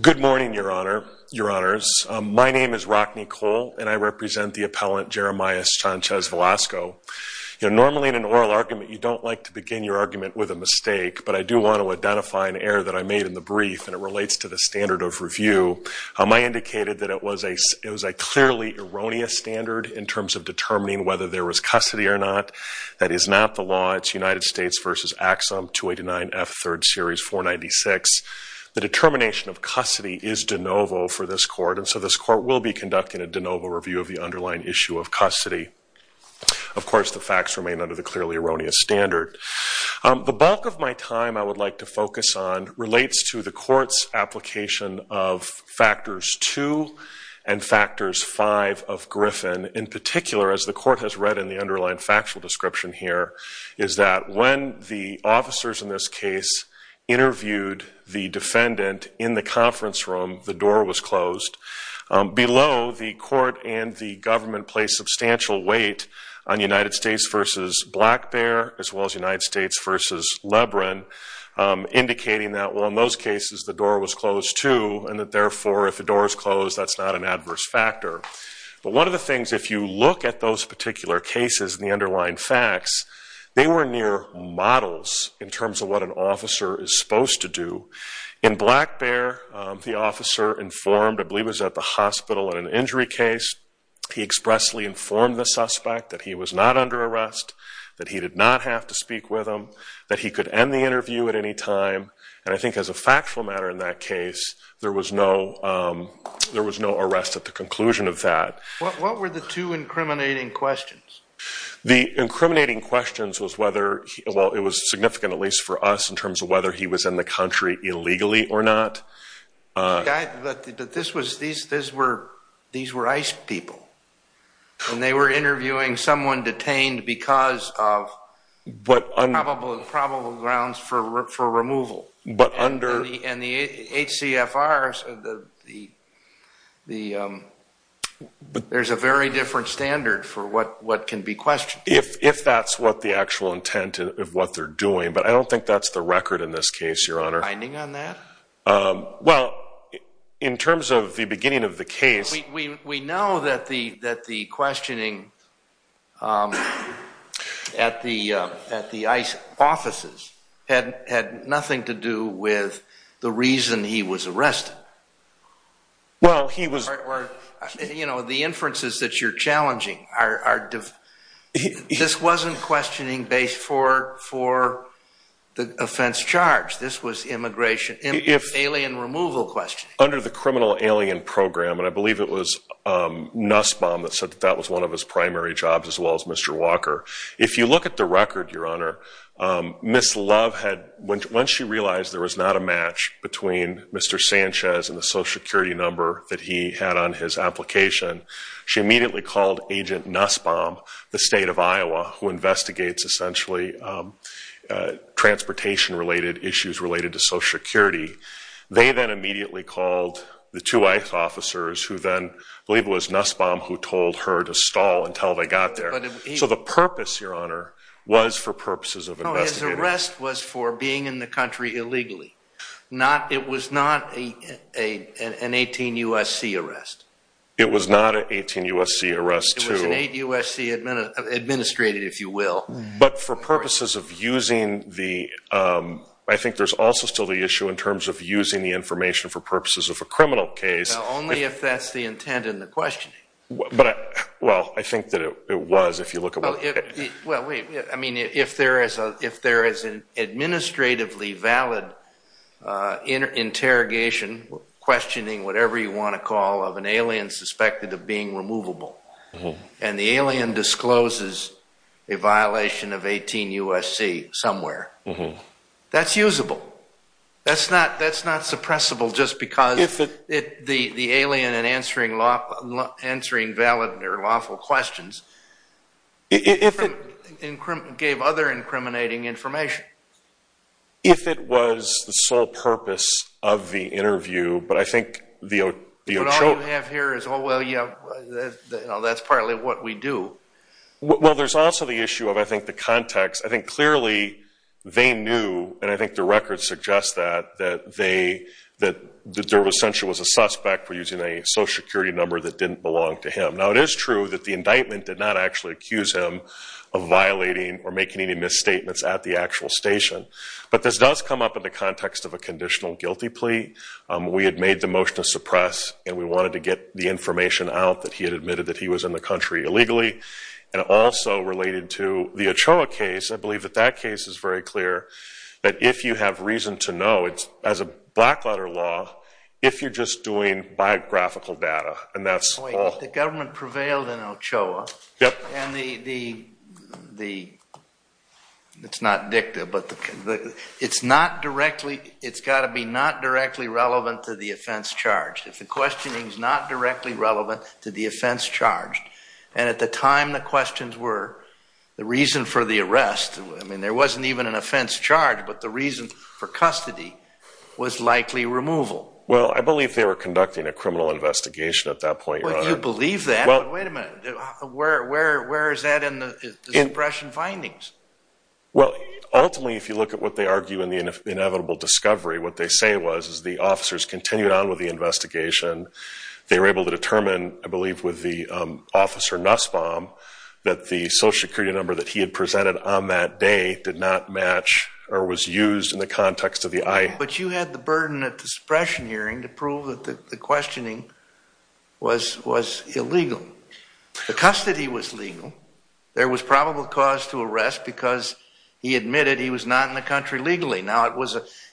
Good morning, Your Honor, Your Honors. My name is Rockney Cole and I represent the appellant Jeremias Sanchez-Velasco. Normally in an oral argument you don't like to begin your argument with a mistake, but I do want to identify an error that I made in the brief and it relates to the standard of review. I indicated that it was a clearly erroneous standard in terms of determining whether there was custody or not. That is not the law. It's United States v. Axum, 289F, 3rd Series, 496. The determination of custody is de novo for this Court and so this Court will be conducting a de novo review of the underlying issue of custody. Of course the facts remain under the clearly erroneous standard. The bulk of my time I would like to focus on relates to the Court's application of Factors 2 and Factors 5 of Griffin. In the officers in this case interviewed the defendant in the conference room, the door was closed. Below, the Court and the government placed substantial weight on United States v. Black Bear as well as United States v. Lebron, indicating that well in those cases the door was closed too and that therefore if the door is closed that's not an adverse factor. But one of the things, if you look at those particular cases and the underlying facts, they were near models in terms of what an officer is supposed to do. In Black Bear, the officer informed, I believe it was at the hospital in an injury case, he expressly informed the suspect that he was not under arrest, that he did not have to speak with him, that he could end the interview at any time and I think as a factual matter in that case there was no arrest at the conclusion of that. What were the two incriminating questions? The incriminating questions was whether, well it was significant at least for us in terms of whether he was in the country illegally or not. This was, these were ICE people and they were interviewing someone detained because of probable grounds for removal. But under And the HCFRs, there's a very different standard for what can be questioned. If that's what the actual intent of what they're doing, but I don't think that's the record in this case, Your Honor. A finding on that? Well, in terms of the beginning of the case We know that the questioning at the ICE offices had nothing to do with the reason he was arrested. Well he was You know, the inferences that you're challenging are, this wasn't questioning based for the offense charged. This was immigration, alien removal questioning. Under the criminal alien program, and I believe it was Nussbaum that said that was one of his primary jobs as well as Mr. Walker. If you look at the record, Your Honor, Ms. Love had, once she realized there was not a match between Mr. Sanchez and the social security number that he had on his application, she immediately called Agent Nussbaum, the state of Iowa, who investigates essentially transportation related issues related to social security. They then immediately called the two ICE officers who then, I believe it was Nussbaum who told her to stall until they got there. So the purpose, Your Honor, was for purposes of investigating. No, his arrest was for being in the country illegally. It was not an 18 USC arrest. It was not an 18 USC arrest, too. It was an 8 USC administrative, if you will. But for purposes of using the, I think there's also still the issue in terms of using the information for purposes of a criminal case. Only if that's the intent in the questioning. But, well, I think that it was if you look at what... Well, wait. I mean, if there is an administratively valid interrogation, questioning, whatever you want to call it, of an alien suspected of being removable. And the alien discloses a violation of 18 USC somewhere. That's usable. That's not suppressible just because the alien in answering valid or lawful questions gave other incriminating information. If it was the sole purpose of the interview, but I think the... What you have here is, oh, well, yeah, that's partly what we do. Well, there's also the issue of, I think, the context. I think clearly they knew, and I think the records suggest that, that they, that there was essentially a suspect for using a social security number that didn't belong to him. Now, it is true that the indictment did not actually accuse him of violating or making any misstatements at the actual station. But this does come up in the context of a conditional guilty plea. We had made the motion to suppress, and we wanted to get the information out that he had admitted that he was in the country illegally. And also related to the Ochoa case, I believe that that case is very clear, that if you have reason to know, as a black letter law, if you're just doing biographical data, and that's all... Wait, the government prevailed in Ochoa, and the... It's not dicta, but the... It's not directly... It's got to be not directly relevant to the offense charged. If the questioning is not directly relevant to the offense charged, and at the time the questions were, the reason for the arrest, I mean, there wasn't even an offense charged, but the reason for custody was likely removal. Well, I believe they were conducting a criminal investigation at that point, rather. Would you believe that? Well... Wait a minute. Where is that in the suppression findings? Well, ultimately, if you look at what they argue in the inevitable discovery, what they say was, is the officers continued on with the investigation. They were able to determine, I believe, with the officer Nussbaum, that the social security number that he had presented on that day did not match, or was used in the context of the eye. But you had the burden of suppression hearing to prove that the questioning was illegal. The custody was legal. There was probable cause to arrest because he admitted he was not in the country legally. Now,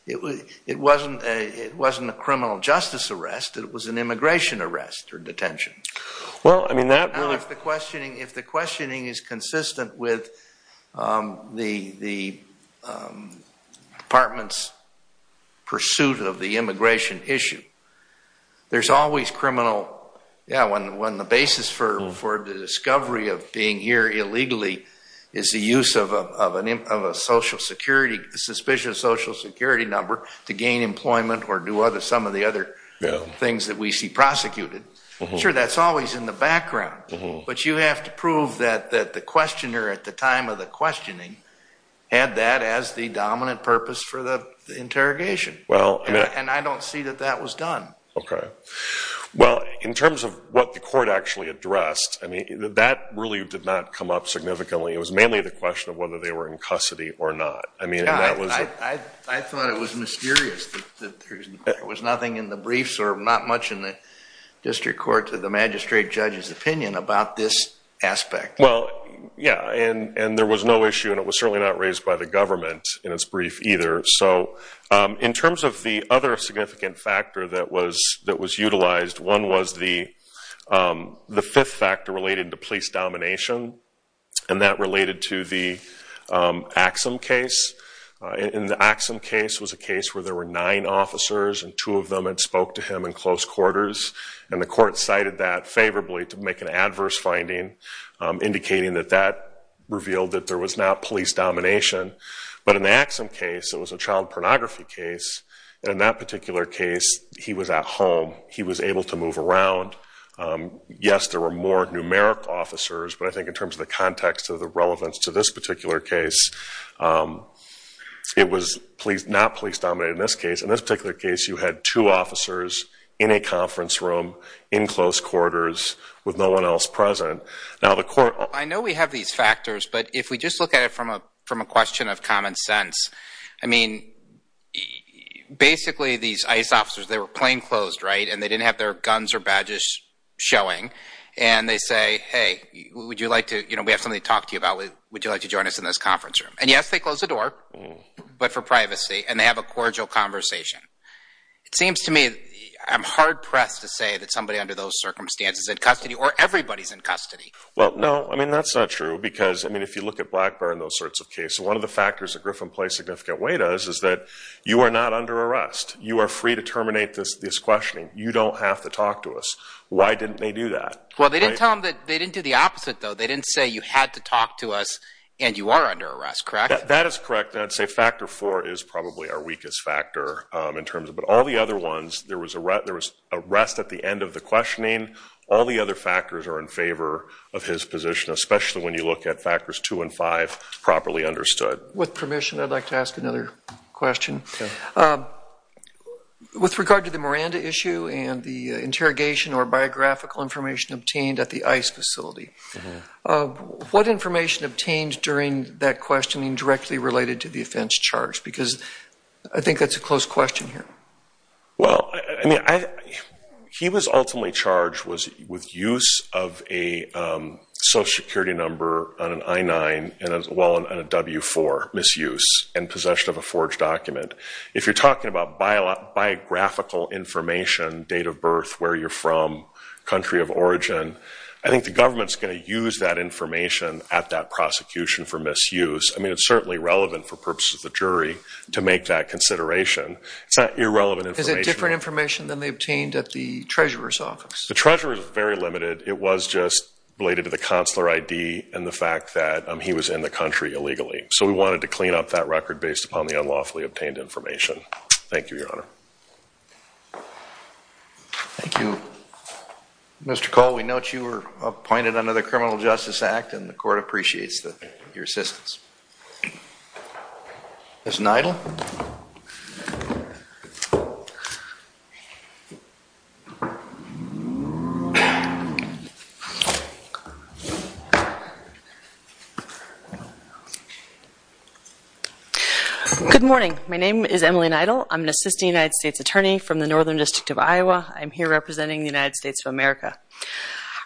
it wasn't a criminal justice arrest, it was an immigration arrest or detention. Well, I mean, that really... If the questioning is consistent with the department's pursuit of the immigration issue, there's always criminal... Yeah, when the basis for the discovery of being here illegally is the use of a suspicious social security number to gain employment or do some of the other things that we see prosecuted. Sure, that's always in the background, but you have to prove that the questioner at the time of the questioning had that as the dominant purpose for the interrogation. And I don't see that that was done. Okay. Well, in terms of what the court actually addressed, I mean, that really did not come up significantly. It was mainly the question of whether they were in custody or not. I mean, that was... I thought it was mysterious that there was nothing in the briefs or not much in the district court to the magistrate judge's opinion about this aspect. Well, yeah, and there was no issue, and it was certainly not raised by the government in its brief either. So in terms of the other significant factor that was utilized, one was the fifth factor related to police domination, and that related to the Axum case. In the Axum case was a case where there were nine officers, and two of them had spoke to him in close quarters, and the court cited that favorably to make an adverse finding, indicating that that revealed that there was not police domination. But in the Axum case, it was a child pornography case, and in that particular case, he was at home. He was able to move around. Yes, there were more numerical officers, but I think in terms of the context of the relevance to this particular case, it was not police dominated in this case. In this particular case, you had two officers in a conference room in close quarters with no one else present. I know we have these factors, but if we just look at it from a question of common sense, I mean, basically these ICE officers, they were plainclothes, right, and they didn't have their guns or badges showing, and they say, hey, we have something to talk to you about. Would you like to join us in this conference room? And yes, they closed the door, but for privacy, and they have a cordial conversation. It seems to me, I'm hard pressed to say that somebody under those circumstances is in custody or everybody's in custody. Well, no, I mean, that's not true because, I mean, if you look at Blackburn and those sorts of cases, one of the factors that Griffin plays a significant way to us is that you are not under arrest. You are free to terminate this questioning. You don't have to talk to us. Why didn't they do that? Well, they didn't tell them that they didn't do the opposite, though. They didn't say you had to talk to us and you are under arrest, correct? That is correct. I'd say factor four is probably our weakest factor in terms of, but all the other ones, there was arrest at the end of the questioning. All the other factors are in favor of his position, especially when you look at factors two and five properly understood. With permission, I'd like to ask another question. With regard to the Miranda issue and the interrogation or biographical information obtained at the ICE facility, what information obtained during that questioning directly related to the offense charge? Because I think that's a close question here. Well, I mean, he was ultimately charged with use of a social security number on an I-9 and as well on a W-4 misuse and possession of a forged document. If you're talking about biographical information, date of birth, where you're from, country of origin, I think the government's going to use that information at that prosecution for misuse. I mean, it's certainly relevant for purposes of the jury to make that consideration. It's not irrelevant information. Is it different information than they obtained at the treasurer's office? The treasurer's is very limited. It was just related to the consular ID and the fact that he was in the country illegally. So we wanted to clean up that record based upon the unlawfully obtained information. Thank you, Your Honor. Thank you. Mr. Cole, we note you were appointed under the Criminal Justice Act and the court appreciates your assistance. Ms. Neidl. Good morning. My name is Emily Neidl. I'm an assistant United States attorney from the Northern District of Iowa. I'm here representing the United States of America.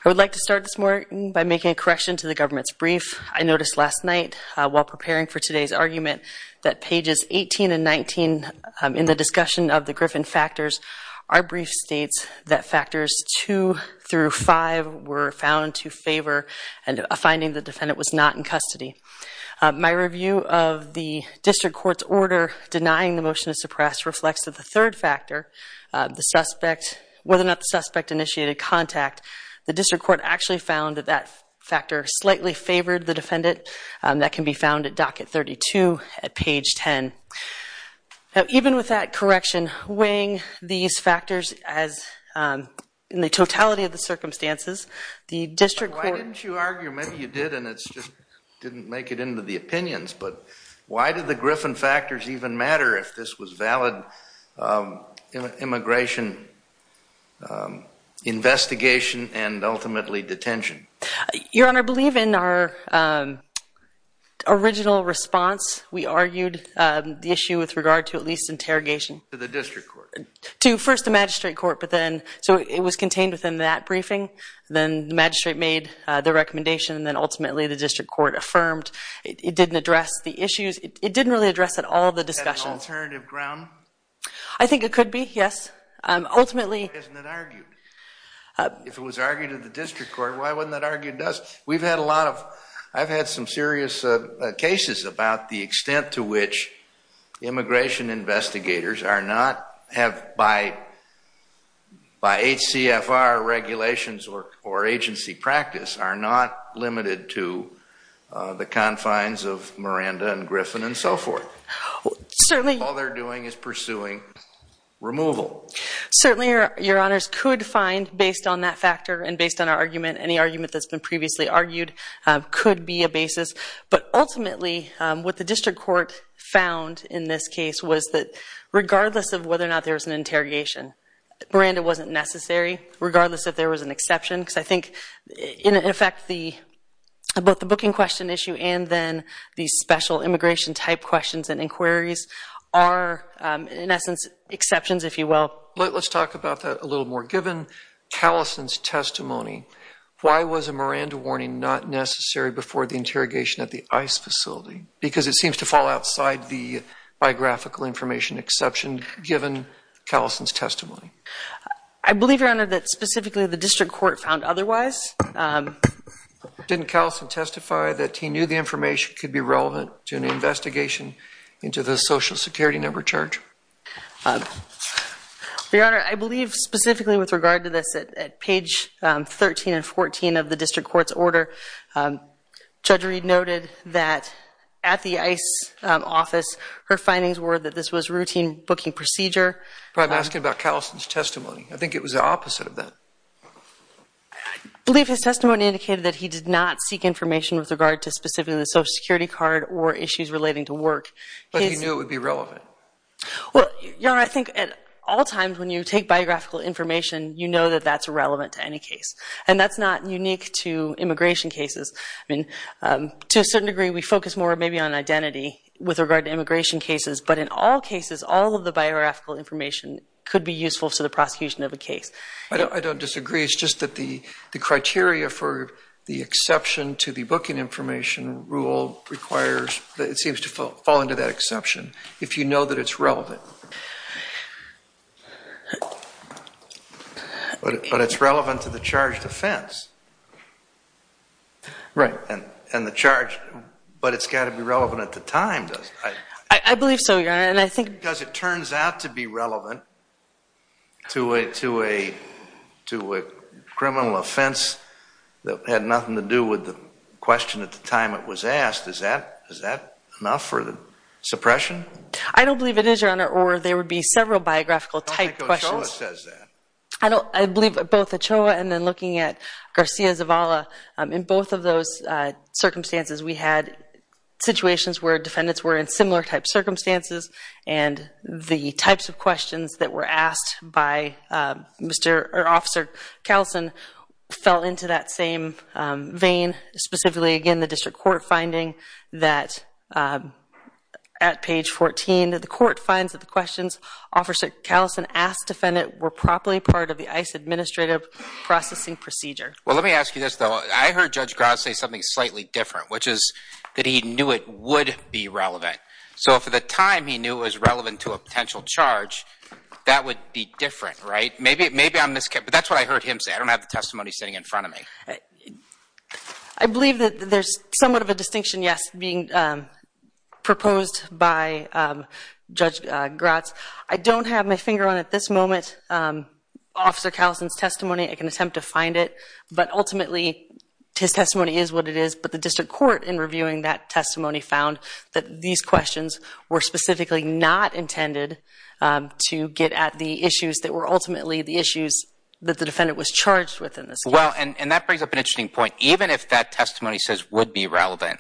I would like to start this morning by making a correction to the government's brief. I noticed last night while preparing for today's argument that pages 18 and 19 in the discussion of the Griffin factors, our brief states that factors 2 through 5 were found to favor a finding the defendant was not in custody. My review of the district court's order denying the motion to suppress reflects that the third factor, whether or not the suspect initiated contact, the district court actually found that that factor slightly favored the defendant. That can be found at docket 32 at page 10. Even with that correction, weighing these factors in the totality of the circumstances, the district court... Why didn't you argue? Maybe you did and it just didn't make it into the opinions, but why did the Griffin factors even matter if this was valid immigration investigation and ultimately detention? Your Honor, I believe in our original response, we argued the issue with regard to at least interrogation... To the district court. To first the magistrate court, but then... So it was contained within that briefing. Then the magistrate made the recommendation and then ultimately the district court affirmed. It didn't address the issues. It didn't really address at all the discussion. Is that an alternative ground? I think it could be, yes. Ultimately... Why isn't it argued? If it was argued at the district court, why wouldn't that argue it does? We've had a lot of... I've had some serious cases about the extent to which immigration investigators are not... By HCFR regulations or agency practice are not limited to the confines of Miranda and Griffin and so forth. Certainly... All they're doing is pursuing removal. Certainly, Your Honors, could find based on that factor and based on our argument, any argument that's been previously argued could be a basis. But ultimately, what the district court found in this case was that regardless of whether or not there was an interrogation, Miranda wasn't necessary, regardless if there was an exception. Because I think, in effect, both the booking question issue and then the special immigration type questions and inquiries are, in essence, exceptions, if you will. Let's talk about that a little more. Given Callison's testimony, why was a Miranda warning not necessary before the interrogation at the ICE facility? Because it seems to fall outside the biographical information exception, given Callison's testimony. I believe, Your Honor, that specifically the district court found otherwise. Didn't Callison testify that he knew the information could be relevant to an investigation into the social security number charge? Your Honor, I believe specifically with regard to this, at page 13 and 14 of the district court's order, Judge Reed noted that at the ICE office, her findings were that this was routine booking procedure. But I'm asking about Callison's testimony. I think it was the opposite of that. I believe his testimony indicated that he did not seek information with regard to specifically the social security card or issues relating to work. But he knew it would be relevant. Well, Your Honor, I think at all times when you take biographical information, you know that that's relevant to any case. And that's not unique to immigration cases. I mean, to a certain degree, we focus more maybe on identity with regard to immigration cases. But in all cases, all of the biographical information could be useful to the prosecution of a case. I don't disagree. It's just that the criteria for the exception to the booking information rule requires, it seems to fall into that exception, if you know that it's relevant. But it's relevant to the charged offense. Right. And the charge, but it's got to be relevant at the time, doesn't it? I believe so, Your Honor. Because it turns out to be relevant to a criminal offense that had nothing to do with the question at the time it was asked, is that enough for the suppression? I don't believe it is, Your Honor. Or there would be several biographical type questions. I don't think Ochoa says that. I believe both Ochoa and then looking at Garcia Zavala, in both of those circumstances, we had situations where defendants were in similar type circumstances. And the types of questions that were asked by Officer Kallison fell into that same vein. Specifically, again, the district court finding that at page 14, the court finds that the questions Officer Kallison asked the defendant were properly part of the ICE administrative processing procedure. Well, let me ask you this, though. I heard Judge Grott say something slightly different, which is that he knew it would be relevant. So if at the time he knew it was relevant to a potential charge, that would be different, right? Maybe I'm mis-concerned. But that's what I heard him say. I don't have the testimony sitting in front of me. I believe that there's somewhat of a distinction, yes, being proposed by Judge Grott. I don't have my finger on, at this moment, Officer Kallison's testimony. I can attempt to find it. But ultimately, his testimony is what it is. But the district court, in reviewing that testimony, found that these questions were specifically not intended to get at the issues that were ultimately the issues that the defendant was charged with in this case. Well, and that brings up an interesting point. Even if that testimony says would be relevant,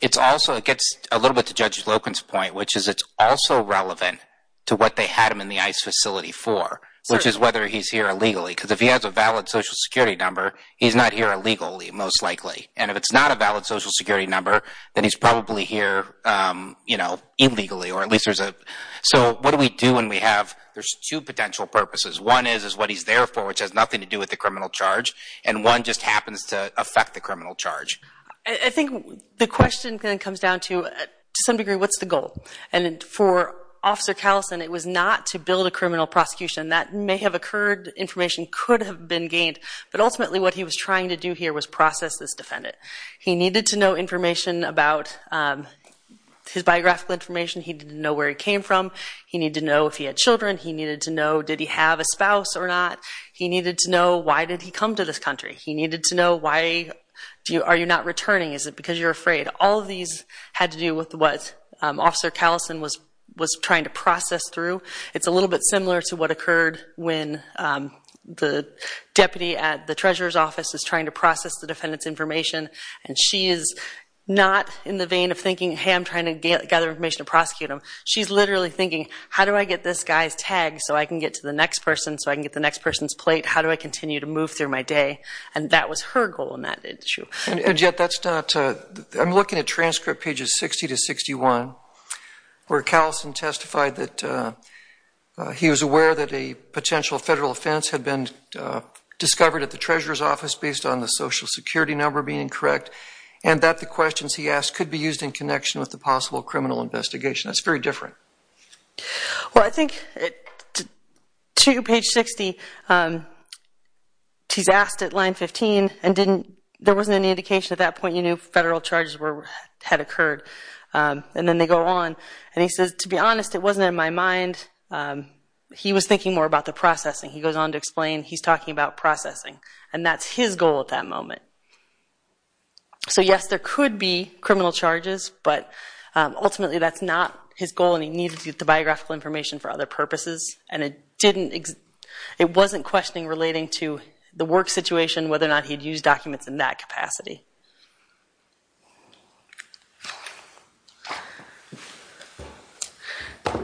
it's also, it gets a little bit to Judge Loken's point, which is it's also relevant to what they had him in the ICE facility for, which is whether he's here illegally. Because if he has a valid Social Security number, he's not here illegally, most likely. And if it's not a valid Social Security number, then he's probably here illegally, or at least there's a... So what do we do when we have... There's two potential purposes. One is what he's there for, which has nothing to do with the criminal charge. And one just happens to affect the criminal charge. I think the question then comes down to, to some degree, what's the goal? And for Officer Kallison, it was not to build a criminal prosecution. That may have occurred. Information could have been gained. But ultimately, what he was trying to do here was process this defendant. He needed to know information about his biographical information. He didn't know where he came from. He needed to know if he had children. He needed to know, did he have a spouse or not? He needed to know, why did he come to this country? He needed to know, why are you not returning? Is it because you're afraid? All of these had to do with what Officer Kallison was trying to process through. It's a little bit similar to what occurred when the deputy at the treasurer's office is trying to process the defendant's information, and she is not in the vein of thinking, hey, I'm trying to gather information to prosecute him. She's literally thinking, how do I get this guy's tag so I can get to the next person, so I can get the next person's plate? How do I continue to move through my day? And that was her goal in that issue. And yet that's not – I'm looking at transcript pages 60 to 61, where Kallison testified that he was aware that a potential federal offense had been discovered at the treasurer's office, based on the social security number being incorrect, and that the questions he asked could be used in connection with the possible criminal investigation. That's very different. Well, I think to page 60, he's asked at line 15, and there wasn't any indication at that point you knew federal charges had occurred. And then they go on, and he says, to be honest, it wasn't in my mind. He was thinking more about the processing. He goes on to explain he's talking about processing, and that's his goal at that moment. So, yes, there could be criminal charges, but ultimately that's not his goal, and he needed to get the biographical information for other purposes, and it wasn't questioning relating to the work situation, whether or not he had used documents in that capacity. I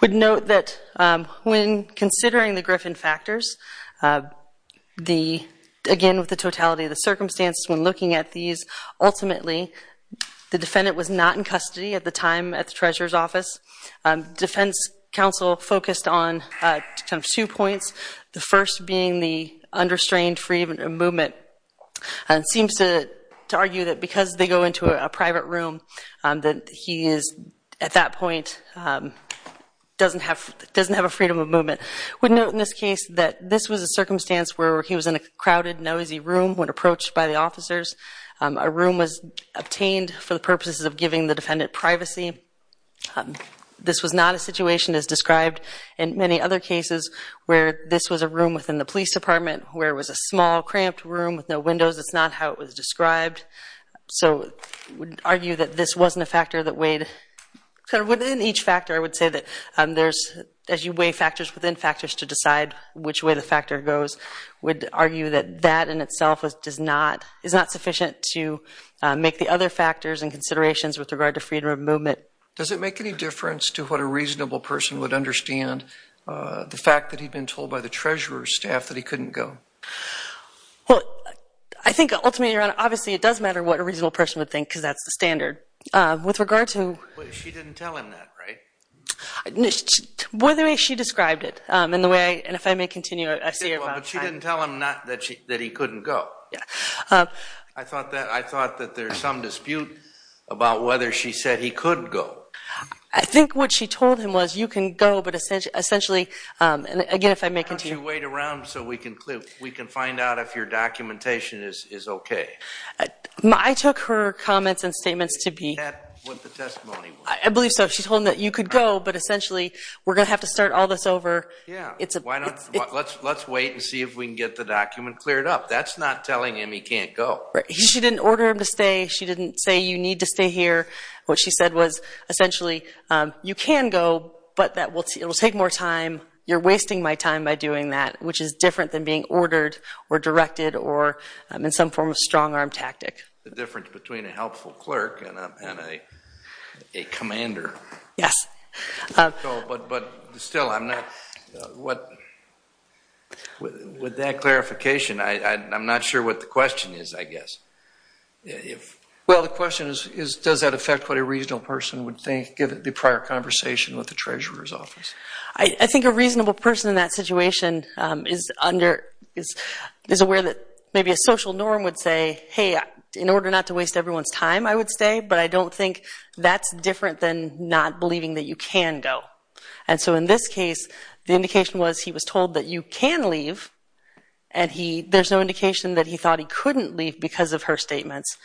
would note that when considering the Griffin factors, again, with the totality of the circumstances when looking at these, ultimately the defendant was not in custody at the time at the treasurer's office. Defense counsel focused on two points, the first being the understrained freedom of movement. It seems to argue that because they go into a private room, that he is, at that point, doesn't have a freedom of movement. I would note in this case that this was a circumstance where he was in a crowded, noisy room when approached by the officers. A room was obtained for the purposes of giving the defendant privacy. This was not a situation as described in many other cases where this was a room within the police department where it was a small, cramped room with no windows. It's not how it was described. So I would argue that this wasn't a factor that weighed, within each factor I would say that there's, as you weigh factors within factors to decide which way the factor goes, would argue that that in itself is not sufficient to make the other factors and considerations with regard to freedom of movement. Does it make any difference to what a reasonable person would understand the fact that he'd been told by the treasurer's staff that he couldn't go? Well, I think ultimately, Your Honor, But she didn't tell him that, right? Well, the way she described it, and if I may continue, I see your point. But she didn't tell him that he couldn't go. I thought that there's some dispute about whether she said he could go. I think what she told him was you can go, but essentially, and again, if I may continue. Why don't you wait around so we can find out if your documentation is okay. I took her comments and statements to be. Is that what the testimony was? I believe so. She told him that you could go, but essentially, we're going to have to start all this over. Let's wait and see if we can get the document cleared up. That's not telling him he can't go. She didn't order him to stay. She didn't say you need to stay here. What she said was essentially you can go, but it will take more time. You're wasting my time by doing that, which is different than being ordered or directed or in some form of strong-arm tactic. The difference between a helpful clerk and a commander. Yes. But still, with that clarification, I'm not sure what the question is, I guess. Well, the question is, does that affect what a reasonable person would think given the prior conversation with the treasurer's office? I think a reasonable person in that situation is aware that maybe a social norm would say, hey, in order not to waste everyone's time, I would stay, but I don't think that's different than not believing that you can go. And so in this case, the indication was he was told that you can leave, and there's no indication that he thought he couldn't leave because of her statements.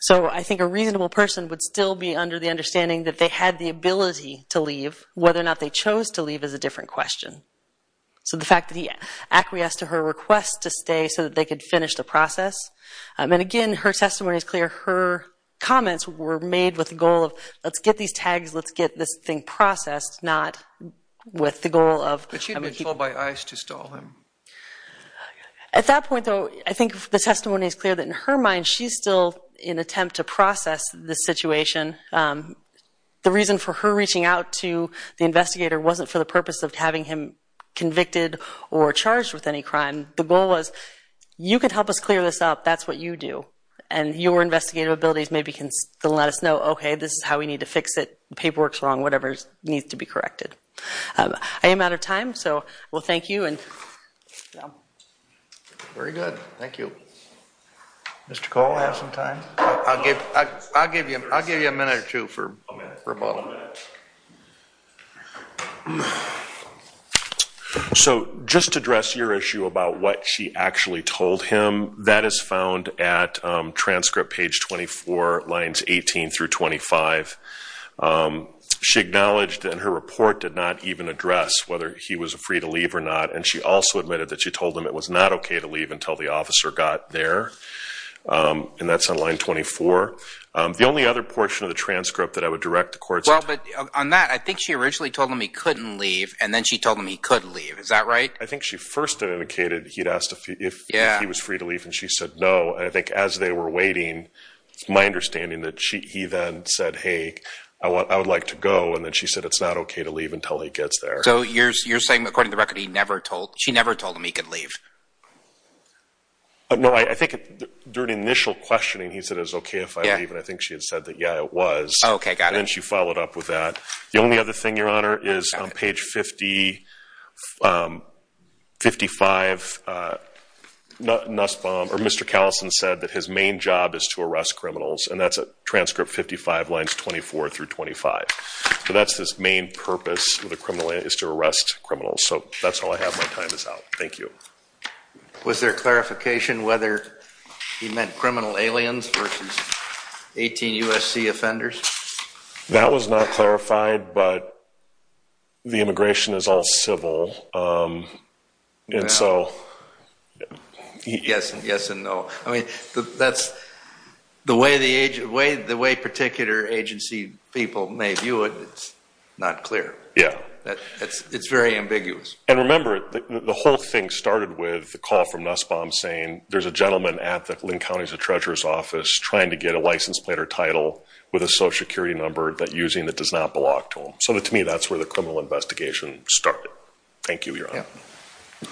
So I think a reasonable person would still be under the understanding that if they had the ability to leave, whether or not they chose to leave is a different question. So the fact that he acquiesced to her request to stay so that they could finish the process. And again, her testimony is clear. Her comments were made with the goal of let's get these tags, let's get this thing processed, not with the goal of – But she had been told by ICE to stall him. At that point, though, I think the testimony is clear that in her mind, she's still in attempt to process the situation. The reason for her reaching out to the investigator wasn't for the purpose of having him convicted or charged with any crime. The goal was you can help us clear this up. That's what you do. And your investigative abilities maybe can still let us know, okay, this is how we need to fix it, the paperwork's wrong, whatever needs to be corrected. I am out of time, so thank you. Very good. Thank you. Mr. Cole, do you have some time? I'll give you a minute or two for a moment. So just to address your issue about what she actually told him, that is found at transcript page 24, lines 18 through 25. She acknowledged in her report did not even address whether he was free to leave or not, and she also admitted that she told him it was not okay to leave until he gets there. And that's on line 24. The only other portion of the transcript that I would direct the courts Well, but on that, I think she originally told him he couldn't leave, and then she told him he could leave. Is that right? I think she first indicated he'd asked if he was free to leave, and she said no. And I think as they were waiting, it's my understanding that he then said, hey, I would like to go. And then she said it's not okay to leave until he gets there. So you're saying, according to the record, she never told him he could leave? No. I think during initial questioning, he said it was okay if I leave, and I think she had said that, yeah, it was. Okay. Got it. And then she followed up with that. The only other thing, Your Honor, is on page 50, 55, Mr. Callison said that his main job is to arrest criminals, and that's at transcript 55, lines 24 through 25. So that's his main purpose with a criminal is to arrest criminals. So that's all I have. My time is out. Thank you. Was there clarification whether he meant criminal aliens versus 18 U.S.C. offenders? That was not clarified, but the immigration is all civil, and so. Yes and no. I mean, the way particular agency people may view it, it's not clear. Yeah. It's very ambiguous. And remember, the whole thing started with the call from Nussbaum saying there's a gentleman at the Linn County Treasurer's Office trying to get a license plate or title with a social security number that using that does not belong to him. So to me, that's where the criminal investigation started. Thank you, Your Honor. Yeah.